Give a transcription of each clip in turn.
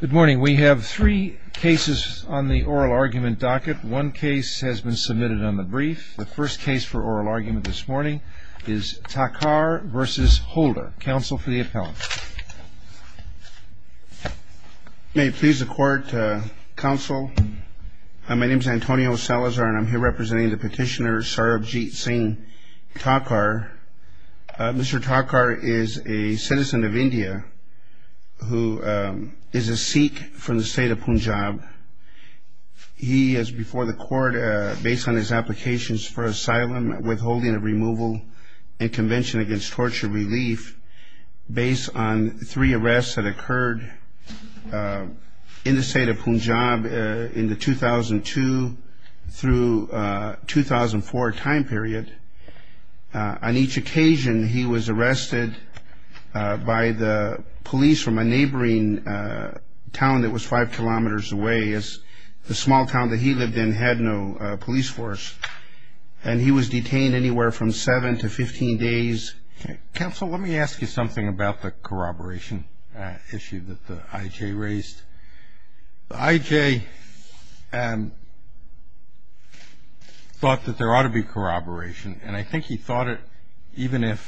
Good morning. We have three cases on the oral argument docket. One case has been submitted on the brief. The first case for oral argument this morning is Thakhar v. Holder. Counsel for the appellant. May it please the Court, Counsel, my name is Antonio Salazar and I'm here representing the petitioner Sarabjit Singh Thakhar. Mr. Thakhar is a citizen of India who is a Sikh from the state of Punjab. He is before the Court based on his applications for asylum, withholding of removal and Convention Against Torture Relief based on three arrests that occurred in the state of Punjab in the 2002 through 2004 time period. On each occasion he was arrested by the police from a neighboring town that was five kilometers away. It's a small town that he lived in, had no police force. And he was detained anywhere from seven to 15 days. Counsel, let me ask you something about the corroboration issue that the I.J. raised. The I.J. thought that there ought to be corroboration. And I think he thought it even if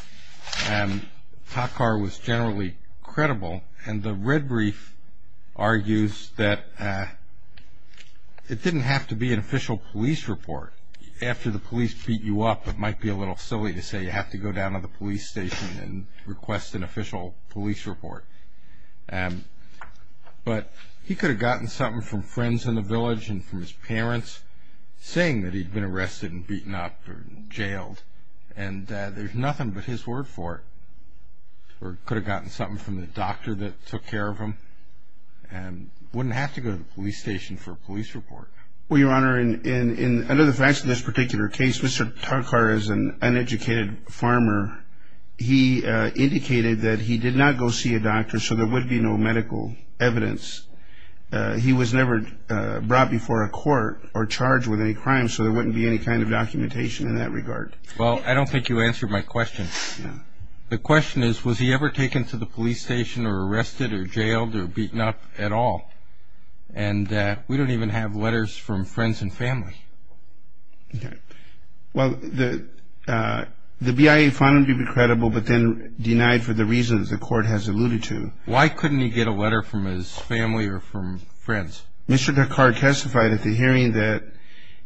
Thakhar was generally credible. And the red brief argues that it didn't have to be an official police report. After the police beat you up it might be a little silly to say you have to go down to the police station and request an official police report. But he could have gotten something from friends in the village and from his parents saying that he'd been arrested and beaten up or jailed. And there's nothing but his word for it. Or could have gotten something from the doctor that took care of him. Wouldn't have to go to the police station for a police report. Well, Your Honor, under the facts of this particular case, Mr. Thakhar is an uneducated farmer. He indicated that he did not go see a doctor so there would be no medical evidence. He was never brought before a court or charged with any crime so there wouldn't be any kind of documentation in that regard. Well, I don't think you answered my question. The question is, was he ever taken to the police station or arrested or jailed or beaten up at all? And that we don't even have letters from friends and family. Okay. Well, the BIA found him to be credible but then denied for the reasons the court has alluded to. Why couldn't he get a letter from his family or from friends? Mr. Thakhar testified at the hearing that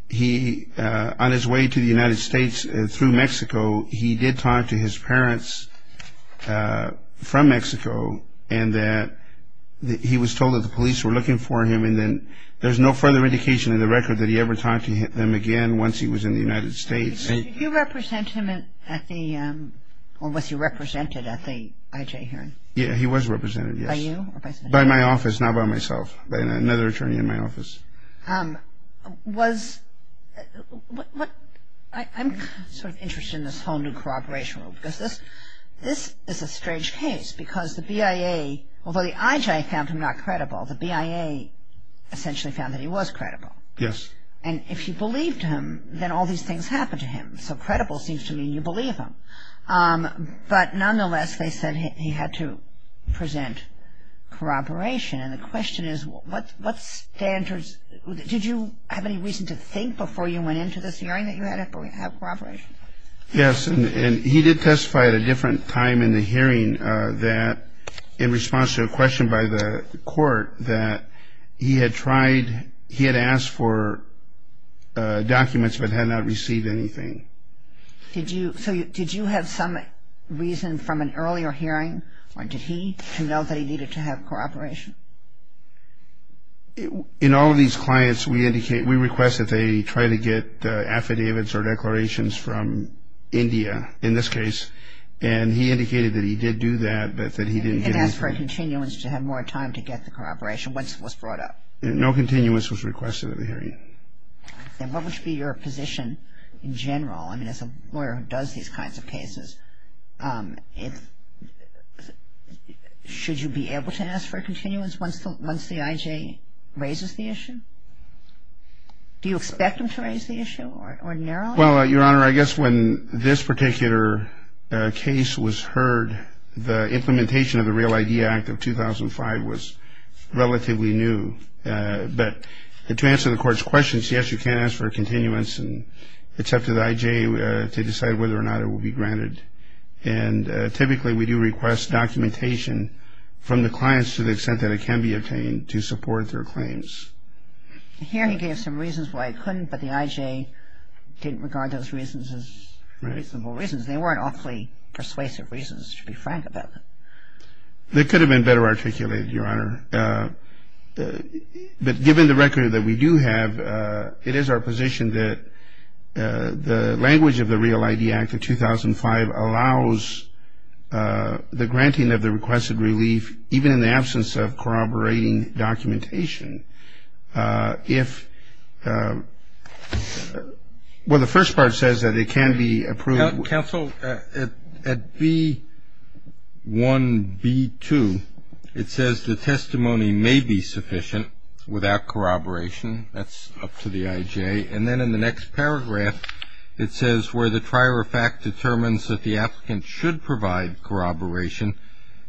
he, on his way to the United States through Mexico, he did talk to his parents from Mexico and that he was told that the police were looking for him and then there's no further indication in the record that he ever talked to them again once he was in the United States. Did you represent him at the, or was he represented at the IJ hearing? Yeah, he was represented, yes. By you or by somebody else? By my office, not by myself, by another attorney in my office. Was, what, I'm sort of interested in this whole new corroboration rule because this is a strange case because the BIA, although the IJ found him not credible, the BIA essentially found that he was credible. Yes. And if you believed him, then all these things happened to him. So credible seems to mean you believe him. But nonetheless, they said he had to present corroboration. And the question is, what standards, did you have any reason to think before you went into this hearing that you had to have corroboration? Yes, and he did testify at a different time in the hearing that, in response to a question by the court, that he had tried, he had asked for documents but had not received anything. So did you have some reason from an earlier hearing, or did he, to know that he needed to have corroboration? In all of these clients, we indicate, we request that they try to get affidavits or declarations from India, in this case. And he indicated that he did do that, but that he didn't get anything. And he had asked for a continuance to have more time to get the corroboration once it was brought up. No continuance was requested at the hearing. And what would be your position in general? I mean, as a lawyer who does these kinds of cases, should you be able to ask for a continuance once the I.J. raises the issue? Do you expect him to raise the issue ordinarily? Well, Your Honor, I guess when this particular case was heard, the implementation of the Real ID Act of 2005 was relatively new. But to answer the Court's question, yes, you can ask for a continuance, and it's up to the I.J. to decide whether or not it will be granted. And typically, we do request documentation from the clients to the extent that it can be obtained to support their claims. The hearing gave some reasons why it couldn't, but the I.J. didn't regard those reasons as reasonable reasons. They weren't awfully persuasive reasons, to be frank about that. They could have been better articulated, Your Honor. But given the record that we do have, it is our position that the language of the Real ID Act of 2005 allows the granting of the requested relief, even in the absence of corroborating documentation. If the first part says that it can be approved. Counsel, at B1, B2, it says the testimony may be sufficient without corroboration. That's up to the I.J. And then in the next paragraph, it says, where the trier of fact determines that the applicant should provide corroboration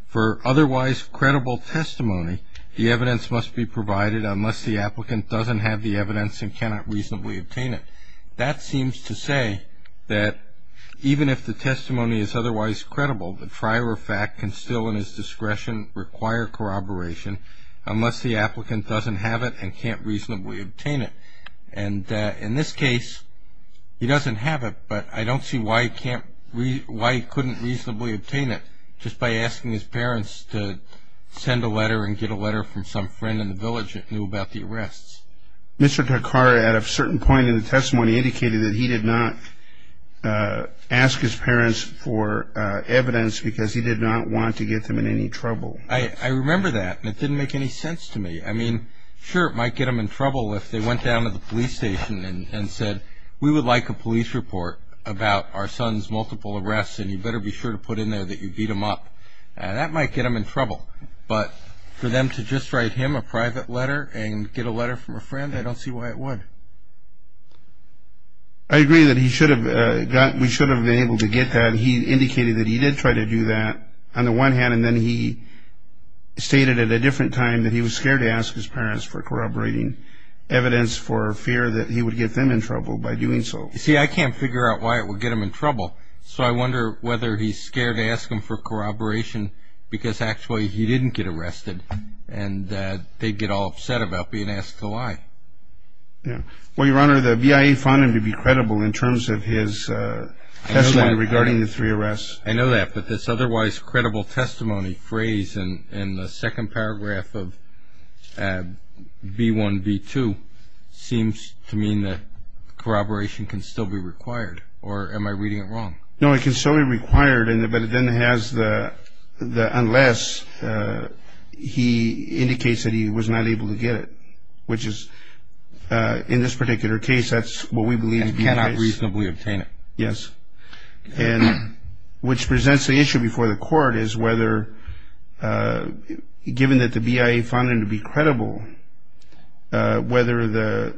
for otherwise credible testimony, the evidence must be provided unless the applicant doesn't have the evidence and cannot reasonably obtain it. That seems to say that even if the testimony is otherwise credible, the trier of fact can still in its discretion require corroboration unless the applicant doesn't have it and can't reasonably obtain it. And in this case, he doesn't have it, but I don't see why he couldn't reasonably obtain it, just by asking his parents to send a letter and get a letter from some friend in the village that knew about the arrests. Mr. Takara, at a certain point in the testimony, indicated that he did not ask his parents for evidence because he did not want to get them in any trouble. I remember that, and it didn't make any sense to me. I mean, sure, it might get them in trouble if they went down to the police station and said, we would like a police report about our son's multiple arrests, and you better be sure to put in there that you beat him up. That might get them in trouble. But for them to just write him a private letter and get a letter from a friend, I don't see why it would. I agree that we should have been able to get that. He indicated that he did try to do that on the one hand, and then he stated at a different time that he was scared to ask his parents for corroborating evidence for fear that he would get them in trouble by doing so. You see, I can't figure out why it would get him in trouble, so I wonder whether he's scared to ask them for corroboration because actually he didn't get arrested, and they'd get all upset about being asked to lie. Well, Your Honor, the BIA found him to be credible in terms of his testimony regarding the three arrests. I know that, but this otherwise credible testimony phrase in the second paragraph of B1, B2, seems to mean that corroboration can still be required, or am I reading it wrong? No, it can still be required, but it then has the unless he indicates that he was not able to get it, which is in this particular case that's what we believe to be the case. And cannot reasonably obtain it. Yes. And which presents the issue before the court is whether, given that the BIA found him to be credible, whether the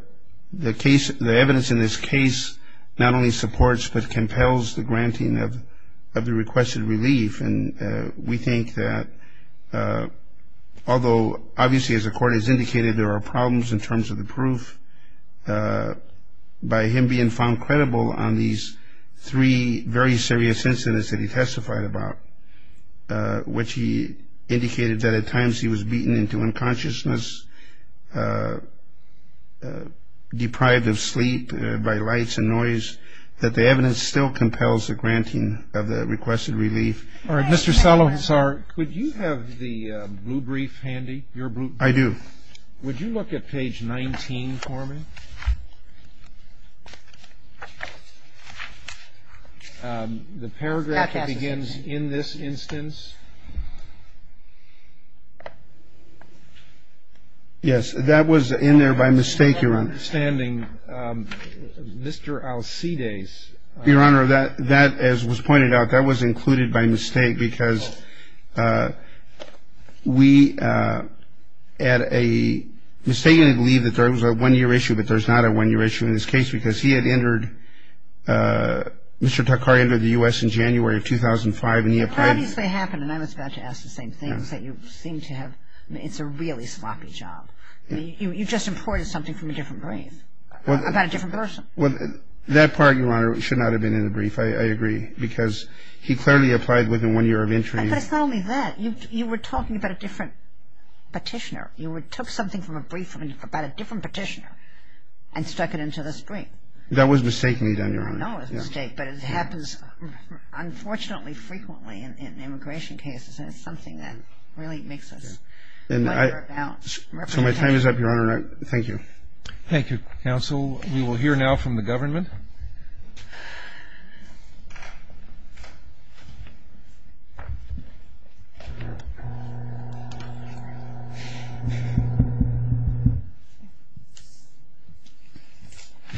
evidence in this case not only supports but compels the granting of the requested relief. And we think that although obviously as the court has indicated there are problems in terms of the proof, by him being found credible on these three very serious incidents that he testified about, which he indicated that at times he was beaten into unconsciousness, deprived of sleep by lights and noise, that the evidence still compels the granting of the requested relief. Mr. Salazar, could you have the blue brief handy? I do. Would you look at page 19 for me? The paragraph that begins in this instance. Yes, that was in there by mistake, Your Honor. I'm not understanding. Mr. Alcides. Your Honor, that as was pointed out, that was included by mistake because we at a, we mistakenly believe that there was a one-year issue but there's not a one-year issue in this case because he had entered, Mr. Takari entered the U.S. in January of 2005 and he applied. It obviously happened and I was about to ask the same thing. You seem to have, it's a really sloppy job. You just imported something from a different brief about a different person. Well, that part, Your Honor, should not have been in the brief, I agree, because he clearly applied within one year of entry. But it's not only that. You were talking about a different petitioner. You took something from a brief about a different petitioner and stuck it into the string. That was mistakenly done, Your Honor. I know it was a mistake, but it happens unfortunately frequently in immigration cases and it's something that really makes us wonder about representation. So my time is up, Your Honor. Thank you. Thank you, counsel. We will hear now from the government. Good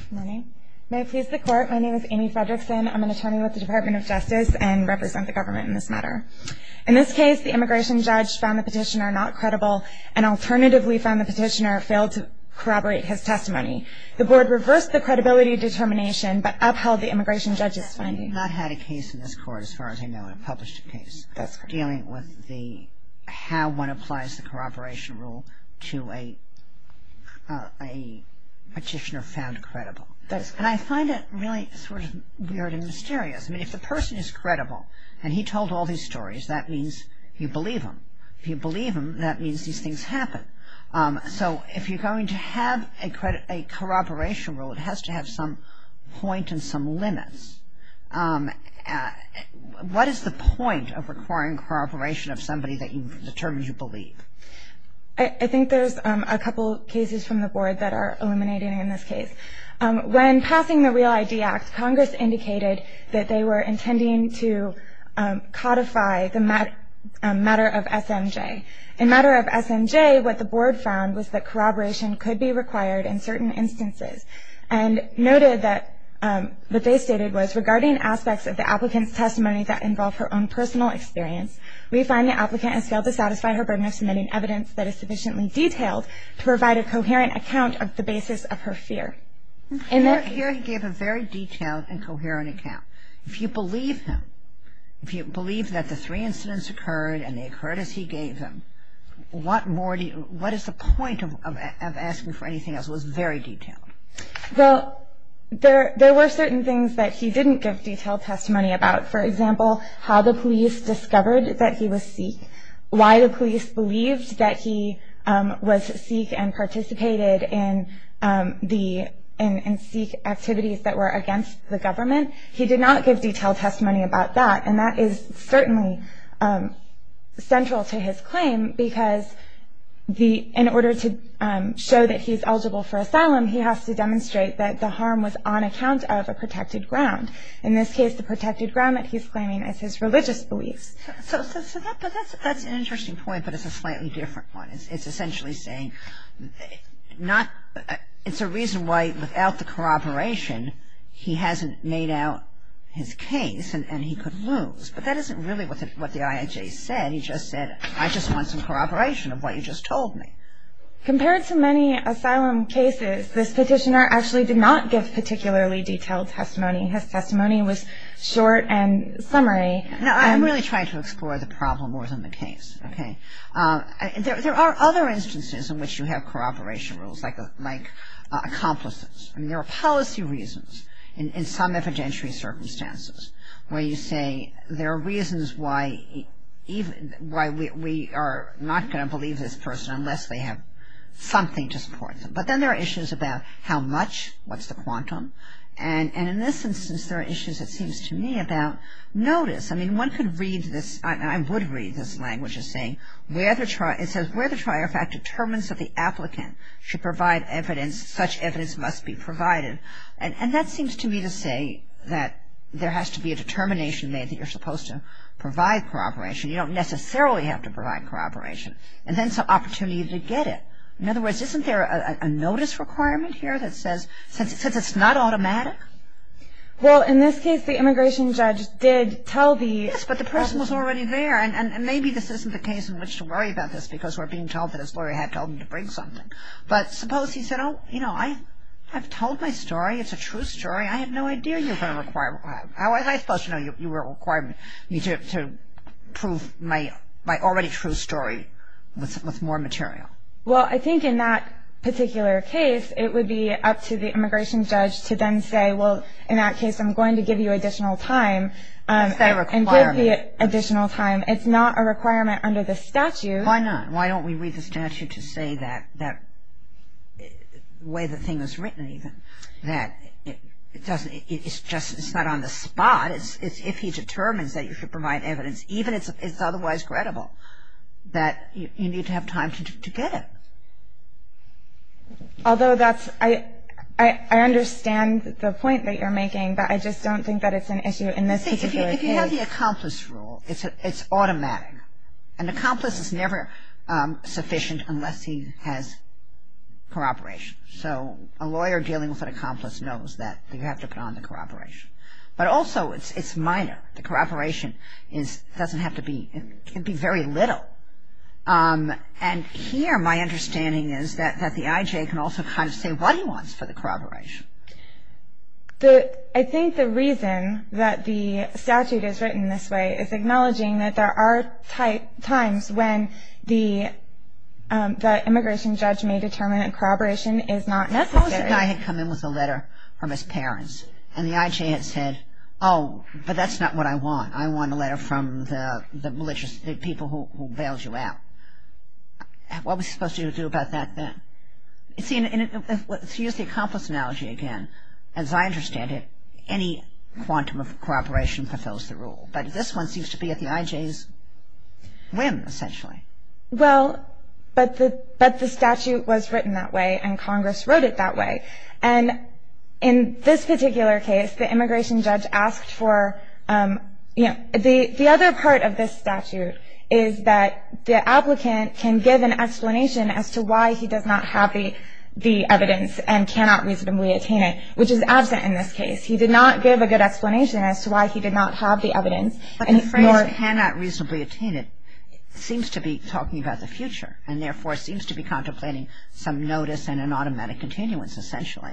morning. May it please the Court, my name is Amy Fredrickson. I'm an attorney with the Department of Justice and represent the government in this matter. In this case, the immigration judge found the petitioner not credible and alternatively found the petitioner failed to corroborate his testimony. The board reversed the credibility determination but upheld the immigration judge's finding. I have not had a case in this court, as far as I know, in a published case, dealing with how one applies the corroboration rule to a petitioner found credible. And I find it really sort of weird and mysterious. I mean, if the person is credible and he told all these stories, that means you believe him. If you believe him, that means these things happen. So if you're going to have a corroboration rule, it has to have some point and some limits. What is the point of requiring corroboration of somebody that you've determined you believe? I think there's a couple cases from the board that are illuminating in this case. When passing the REAL ID Act, Congress indicated that they were intending to codify the matter of SMJ. In matter of SMJ, what the board found was that corroboration could be required in certain instances and noted that what they stated was, regarding aspects of the applicant's testimony that involve her own personal experience, we find the applicant has failed to satisfy her burden of submitting evidence that is sufficiently detailed to provide a coherent account of the basis of her fear. In her fear, he gave a very detailed and coherent account. If you believe him, if you believe that the three incidents occurred and they occurred as he gave them, what is the point of asking for anything else that was very detailed? Well, there were certain things that he didn't give detailed testimony about. For example, how the police discovered that he was Sikh, why the police believed that he was Sikh and participated in Sikh activities that were against the government. He did not give detailed testimony about that, and that is certainly central to his claim because in order to show that he's eligible for asylum, he has to demonstrate that the harm was on account of a protected ground. In this case, the protected ground that he's claiming is his religious beliefs. So that's an interesting point, but it's a slightly different one. It's essentially saying it's a reason why without the corroboration, he hasn't made out his case and he could lose. But that isn't really what the IAJ said. He just said, I just want some corroboration of what you just told me. Compared to many asylum cases, this petitioner actually did not give particularly detailed testimony. His testimony was short and summary. Now, I'm really trying to explore the problem more than the case, okay? There are other instances in which you have corroboration rules like accomplices. I mean, there are policy reasons in some evidentiary circumstances where you say there are reasons why we are not going to believe this person unless they have something to support them. But then there are issues about how much, what's the quantum? And in this instance, there are issues, it seems to me, about notice. I mean, one could read this, and I would read this language as saying, it says where the trier fact determines that the applicant should provide evidence, such evidence must be provided. And that seems to me to say that there has to be a determination made that you're supposed to provide corroboration. You don't necessarily have to provide corroboration. And then it's an opportunity to get it. In other words, isn't there a notice requirement here that says, since it's not automatic? Well, in this case, the immigration judge did tell the... Yes, but the person was already there, and maybe this isn't the case in which to worry about this because we're being told that his lawyer had told him to bring something. But suppose he said, oh, you know, I've told my story. It's a true story. I had no idea you were going to require, how was I supposed to know you were requiring me to prove my already true story with more material? Well, I think in that particular case, it would be up to the immigration judge to then say, well, in that case, I'm going to give you additional time and give the additional time. It's not a requirement under the statute. Why not? Why don't we read the statute to say that, the way the thing is written even, that it's not on the spot. It's if he determines that you should provide evidence, even if it's otherwise credible, that you need to have time to get it. Although that's, I understand the point that you're making, but I just don't think that it's an issue in this particular case. You see, if you have the accomplice rule, it's automatic. An accomplice is never sufficient unless he has corroboration. So a lawyer dealing with an accomplice knows that you have to put on the corroboration. But also, it's minor. The corroboration doesn't have to be, it can be very little. And here, my understanding is that the IJ can also kind of say what he wants for the corroboration. I think the reason that the statute is written this way is acknowledging that there are times when the immigration judge may determine that corroboration is not necessary. Suppose that I had come in with a letter from his parents, and the IJ had said, oh, but that's not what I want. I want a letter from the people who bailed you out. What was he supposed to do about that then? See, to use the accomplice analogy again, as I understand it, any quantum of corroboration fulfills the rule. But this one seems to be at the IJ's whim, essentially. Well, but the statute was written that way, and Congress wrote it that way. And in this particular case, the immigration judge asked for, you know, the other part of this statute is that the applicant can give an explanation as to why he does not have the evidence and cannot reasonably attain it, which is absent in this case. He did not give a good explanation as to why he did not have the evidence. But the phrase cannot reasonably attain it seems to be talking about the future, and therefore seems to be contemplating some notice and an automatic continuance, essentially.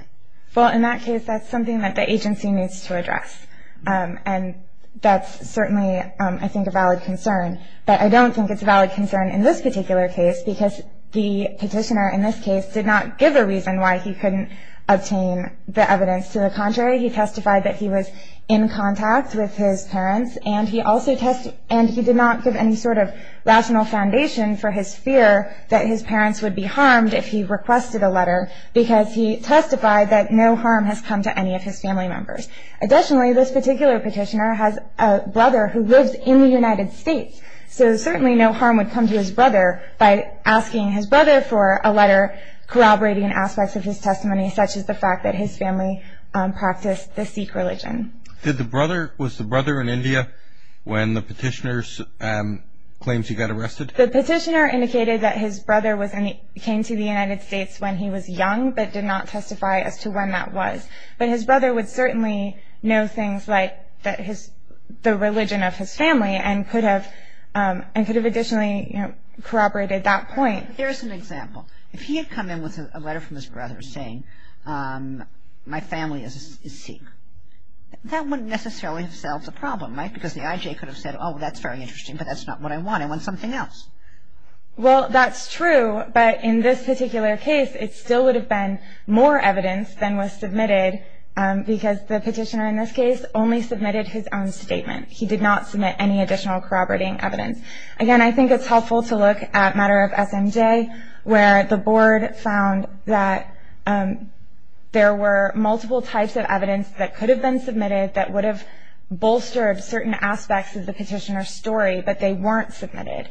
Well, in that case, that's something that the agency needs to address. And that's certainly, I think, a valid concern. But I don't think it's a valid concern in this particular case because the petitioner in this case did not give a reason why he couldn't obtain the evidence. To the contrary, he testified that he was in contact with his parents, and he did not give any sort of rational foundation for his fear that his parents would be harmed if he requested a letter because he testified that no harm has come to any of his family members. Additionally, this particular petitioner has a brother who lives in the United States, so certainly no harm would come to his brother by asking his brother for a letter corroborating aspects of his testimony, such as the fact that his family practiced the Sikh religion. Was the brother in India when the petitioner's claims he got arrested? The petitioner indicated that his brother came to the United States when he was young but did not testify as to when that was. But his brother would certainly know things like the religion of his family and could have additionally corroborated that point. Here's an example. If he had come in with a letter from his brother saying, my family is Sikh, that wouldn't necessarily have solved the problem, right? Because the IJ could have said, oh, that's very interesting, but that's not what I want. I want something else. Well, that's true. But in this particular case, it still would have been more evidence than was submitted because the petitioner in this case only submitted his own statement. He did not submit any additional corroborating evidence. Again, I think it's helpful to look at a matter of SMJ, where the board found that there were multiple types of evidence that could have been submitted that would have bolstered certain aspects of the petitioner's story, but they weren't submitted.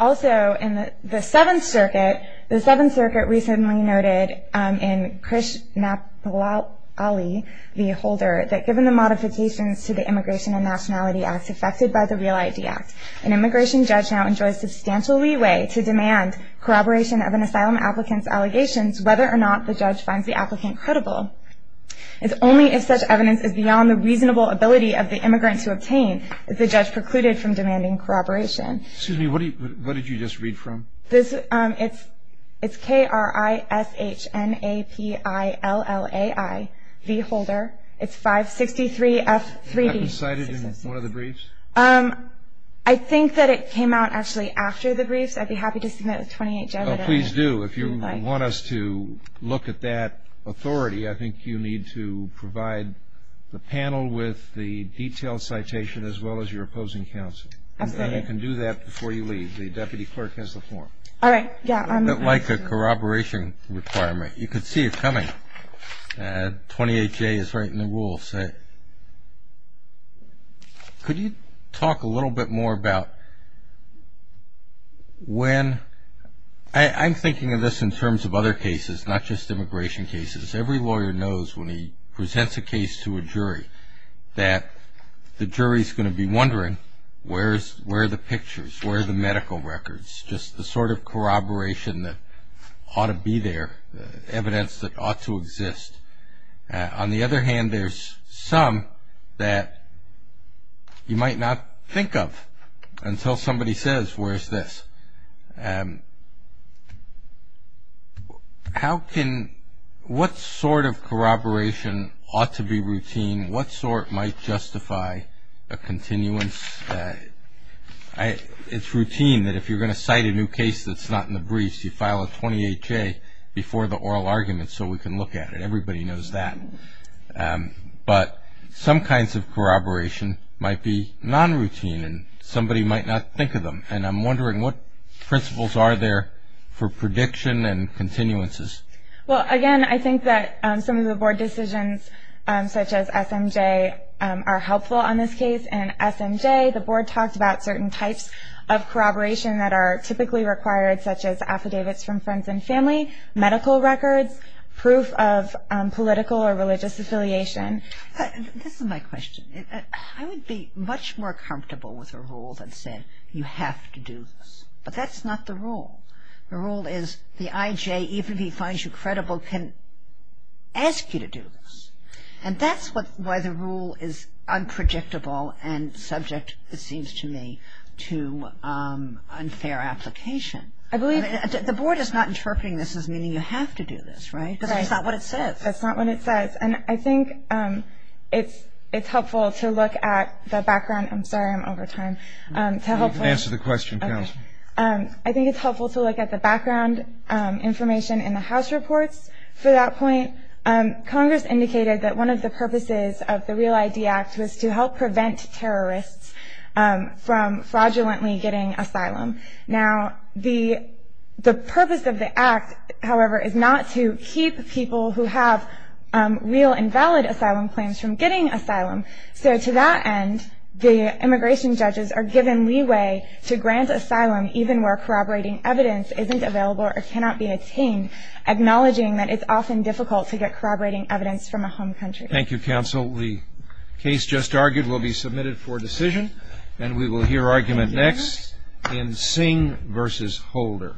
Also, in the Seventh Circuit, the Seventh Circuit recently noted in Krishnapallali v. Holder that given the modifications to the Immigration and Nationality Act affected by the REAL-ID Act, an immigration judge now enjoys substantial leeway to demand corroboration of an asylum applicant's allegations whether or not the judge finds the applicant credible. It's only if such evidence is beyond the reasonable ability of the immigrant to obtain if the judge precluded from demanding corroboration. Excuse me. What did you just read from? It's Krishnapallali v. Holder. It's 563F3D. Was that cited in one of the briefs? I think that it came out actually after the briefs. I'd be happy to submit a 28-judge. Oh, please do. If you want us to look at that authority, I think you need to provide the panel with the detailed citation as well as your opposing counsel. Absolutely. And you can do that before you leave. The deputy clerk has the floor. All right. Yeah. Like a corroboration requirement. You can see it coming. 28-J is right in the rules. Could you talk a little bit more about when? I'm thinking of this in terms of other cases, not just immigration cases. Every lawyer knows when he presents a case to a jury that the jury is going to be wondering where are the pictures, where are the medical records, just the sort of corroboration that ought to be there, evidence that ought to exist. On the other hand, there's some that you might not think of until somebody says, where's this? What sort of corroboration ought to be routine? What sort might justify a continuance? It's routine that if you're going to cite a new case that's not in the briefs, you file a 28-J before the oral argument so we can look at it. Everybody knows that. But some kinds of corroboration might be non-routine, and somebody might not think of them. And I'm wondering what principles are there for prediction and continuances? Well, again, I think that some of the Board decisions, such as SMJ, are helpful on this case. The Board talked about certain types of corroboration that are typically required, such as affidavits from friends and family, medical records, proof of political or religious affiliation. This is my question. I would be much more comfortable with a rule that said you have to do this. But that's not the rule. The rule is the IJ, even if he finds you credible, can ask you to do this. And that's why the rule is unpredictable and subject, it seems to me, to unfair application. The Board is not interpreting this as meaning you have to do this, right? Right. Because that's not what it says. That's not what it says. And I think it's helpful to look at the background. I'm sorry, I'm over time. Answer the question, counsel. I think it's helpful to look at the background information in the House reports for that point. Congress indicated that one of the purposes of the REAL ID Act was to help prevent terrorists from fraudulently getting asylum. Now, the purpose of the act, however, is not to keep people who have real and valid asylum claims from getting asylum. So to that end, the immigration judges are given leeway to grant asylum, even where corroborating evidence isn't available or cannot be obtained, acknowledging that it's often difficult to get corroborating evidence from a home country. Thank you, counsel. The case just argued will be submitted for decision, and we will hear argument next in Singh v. Holder.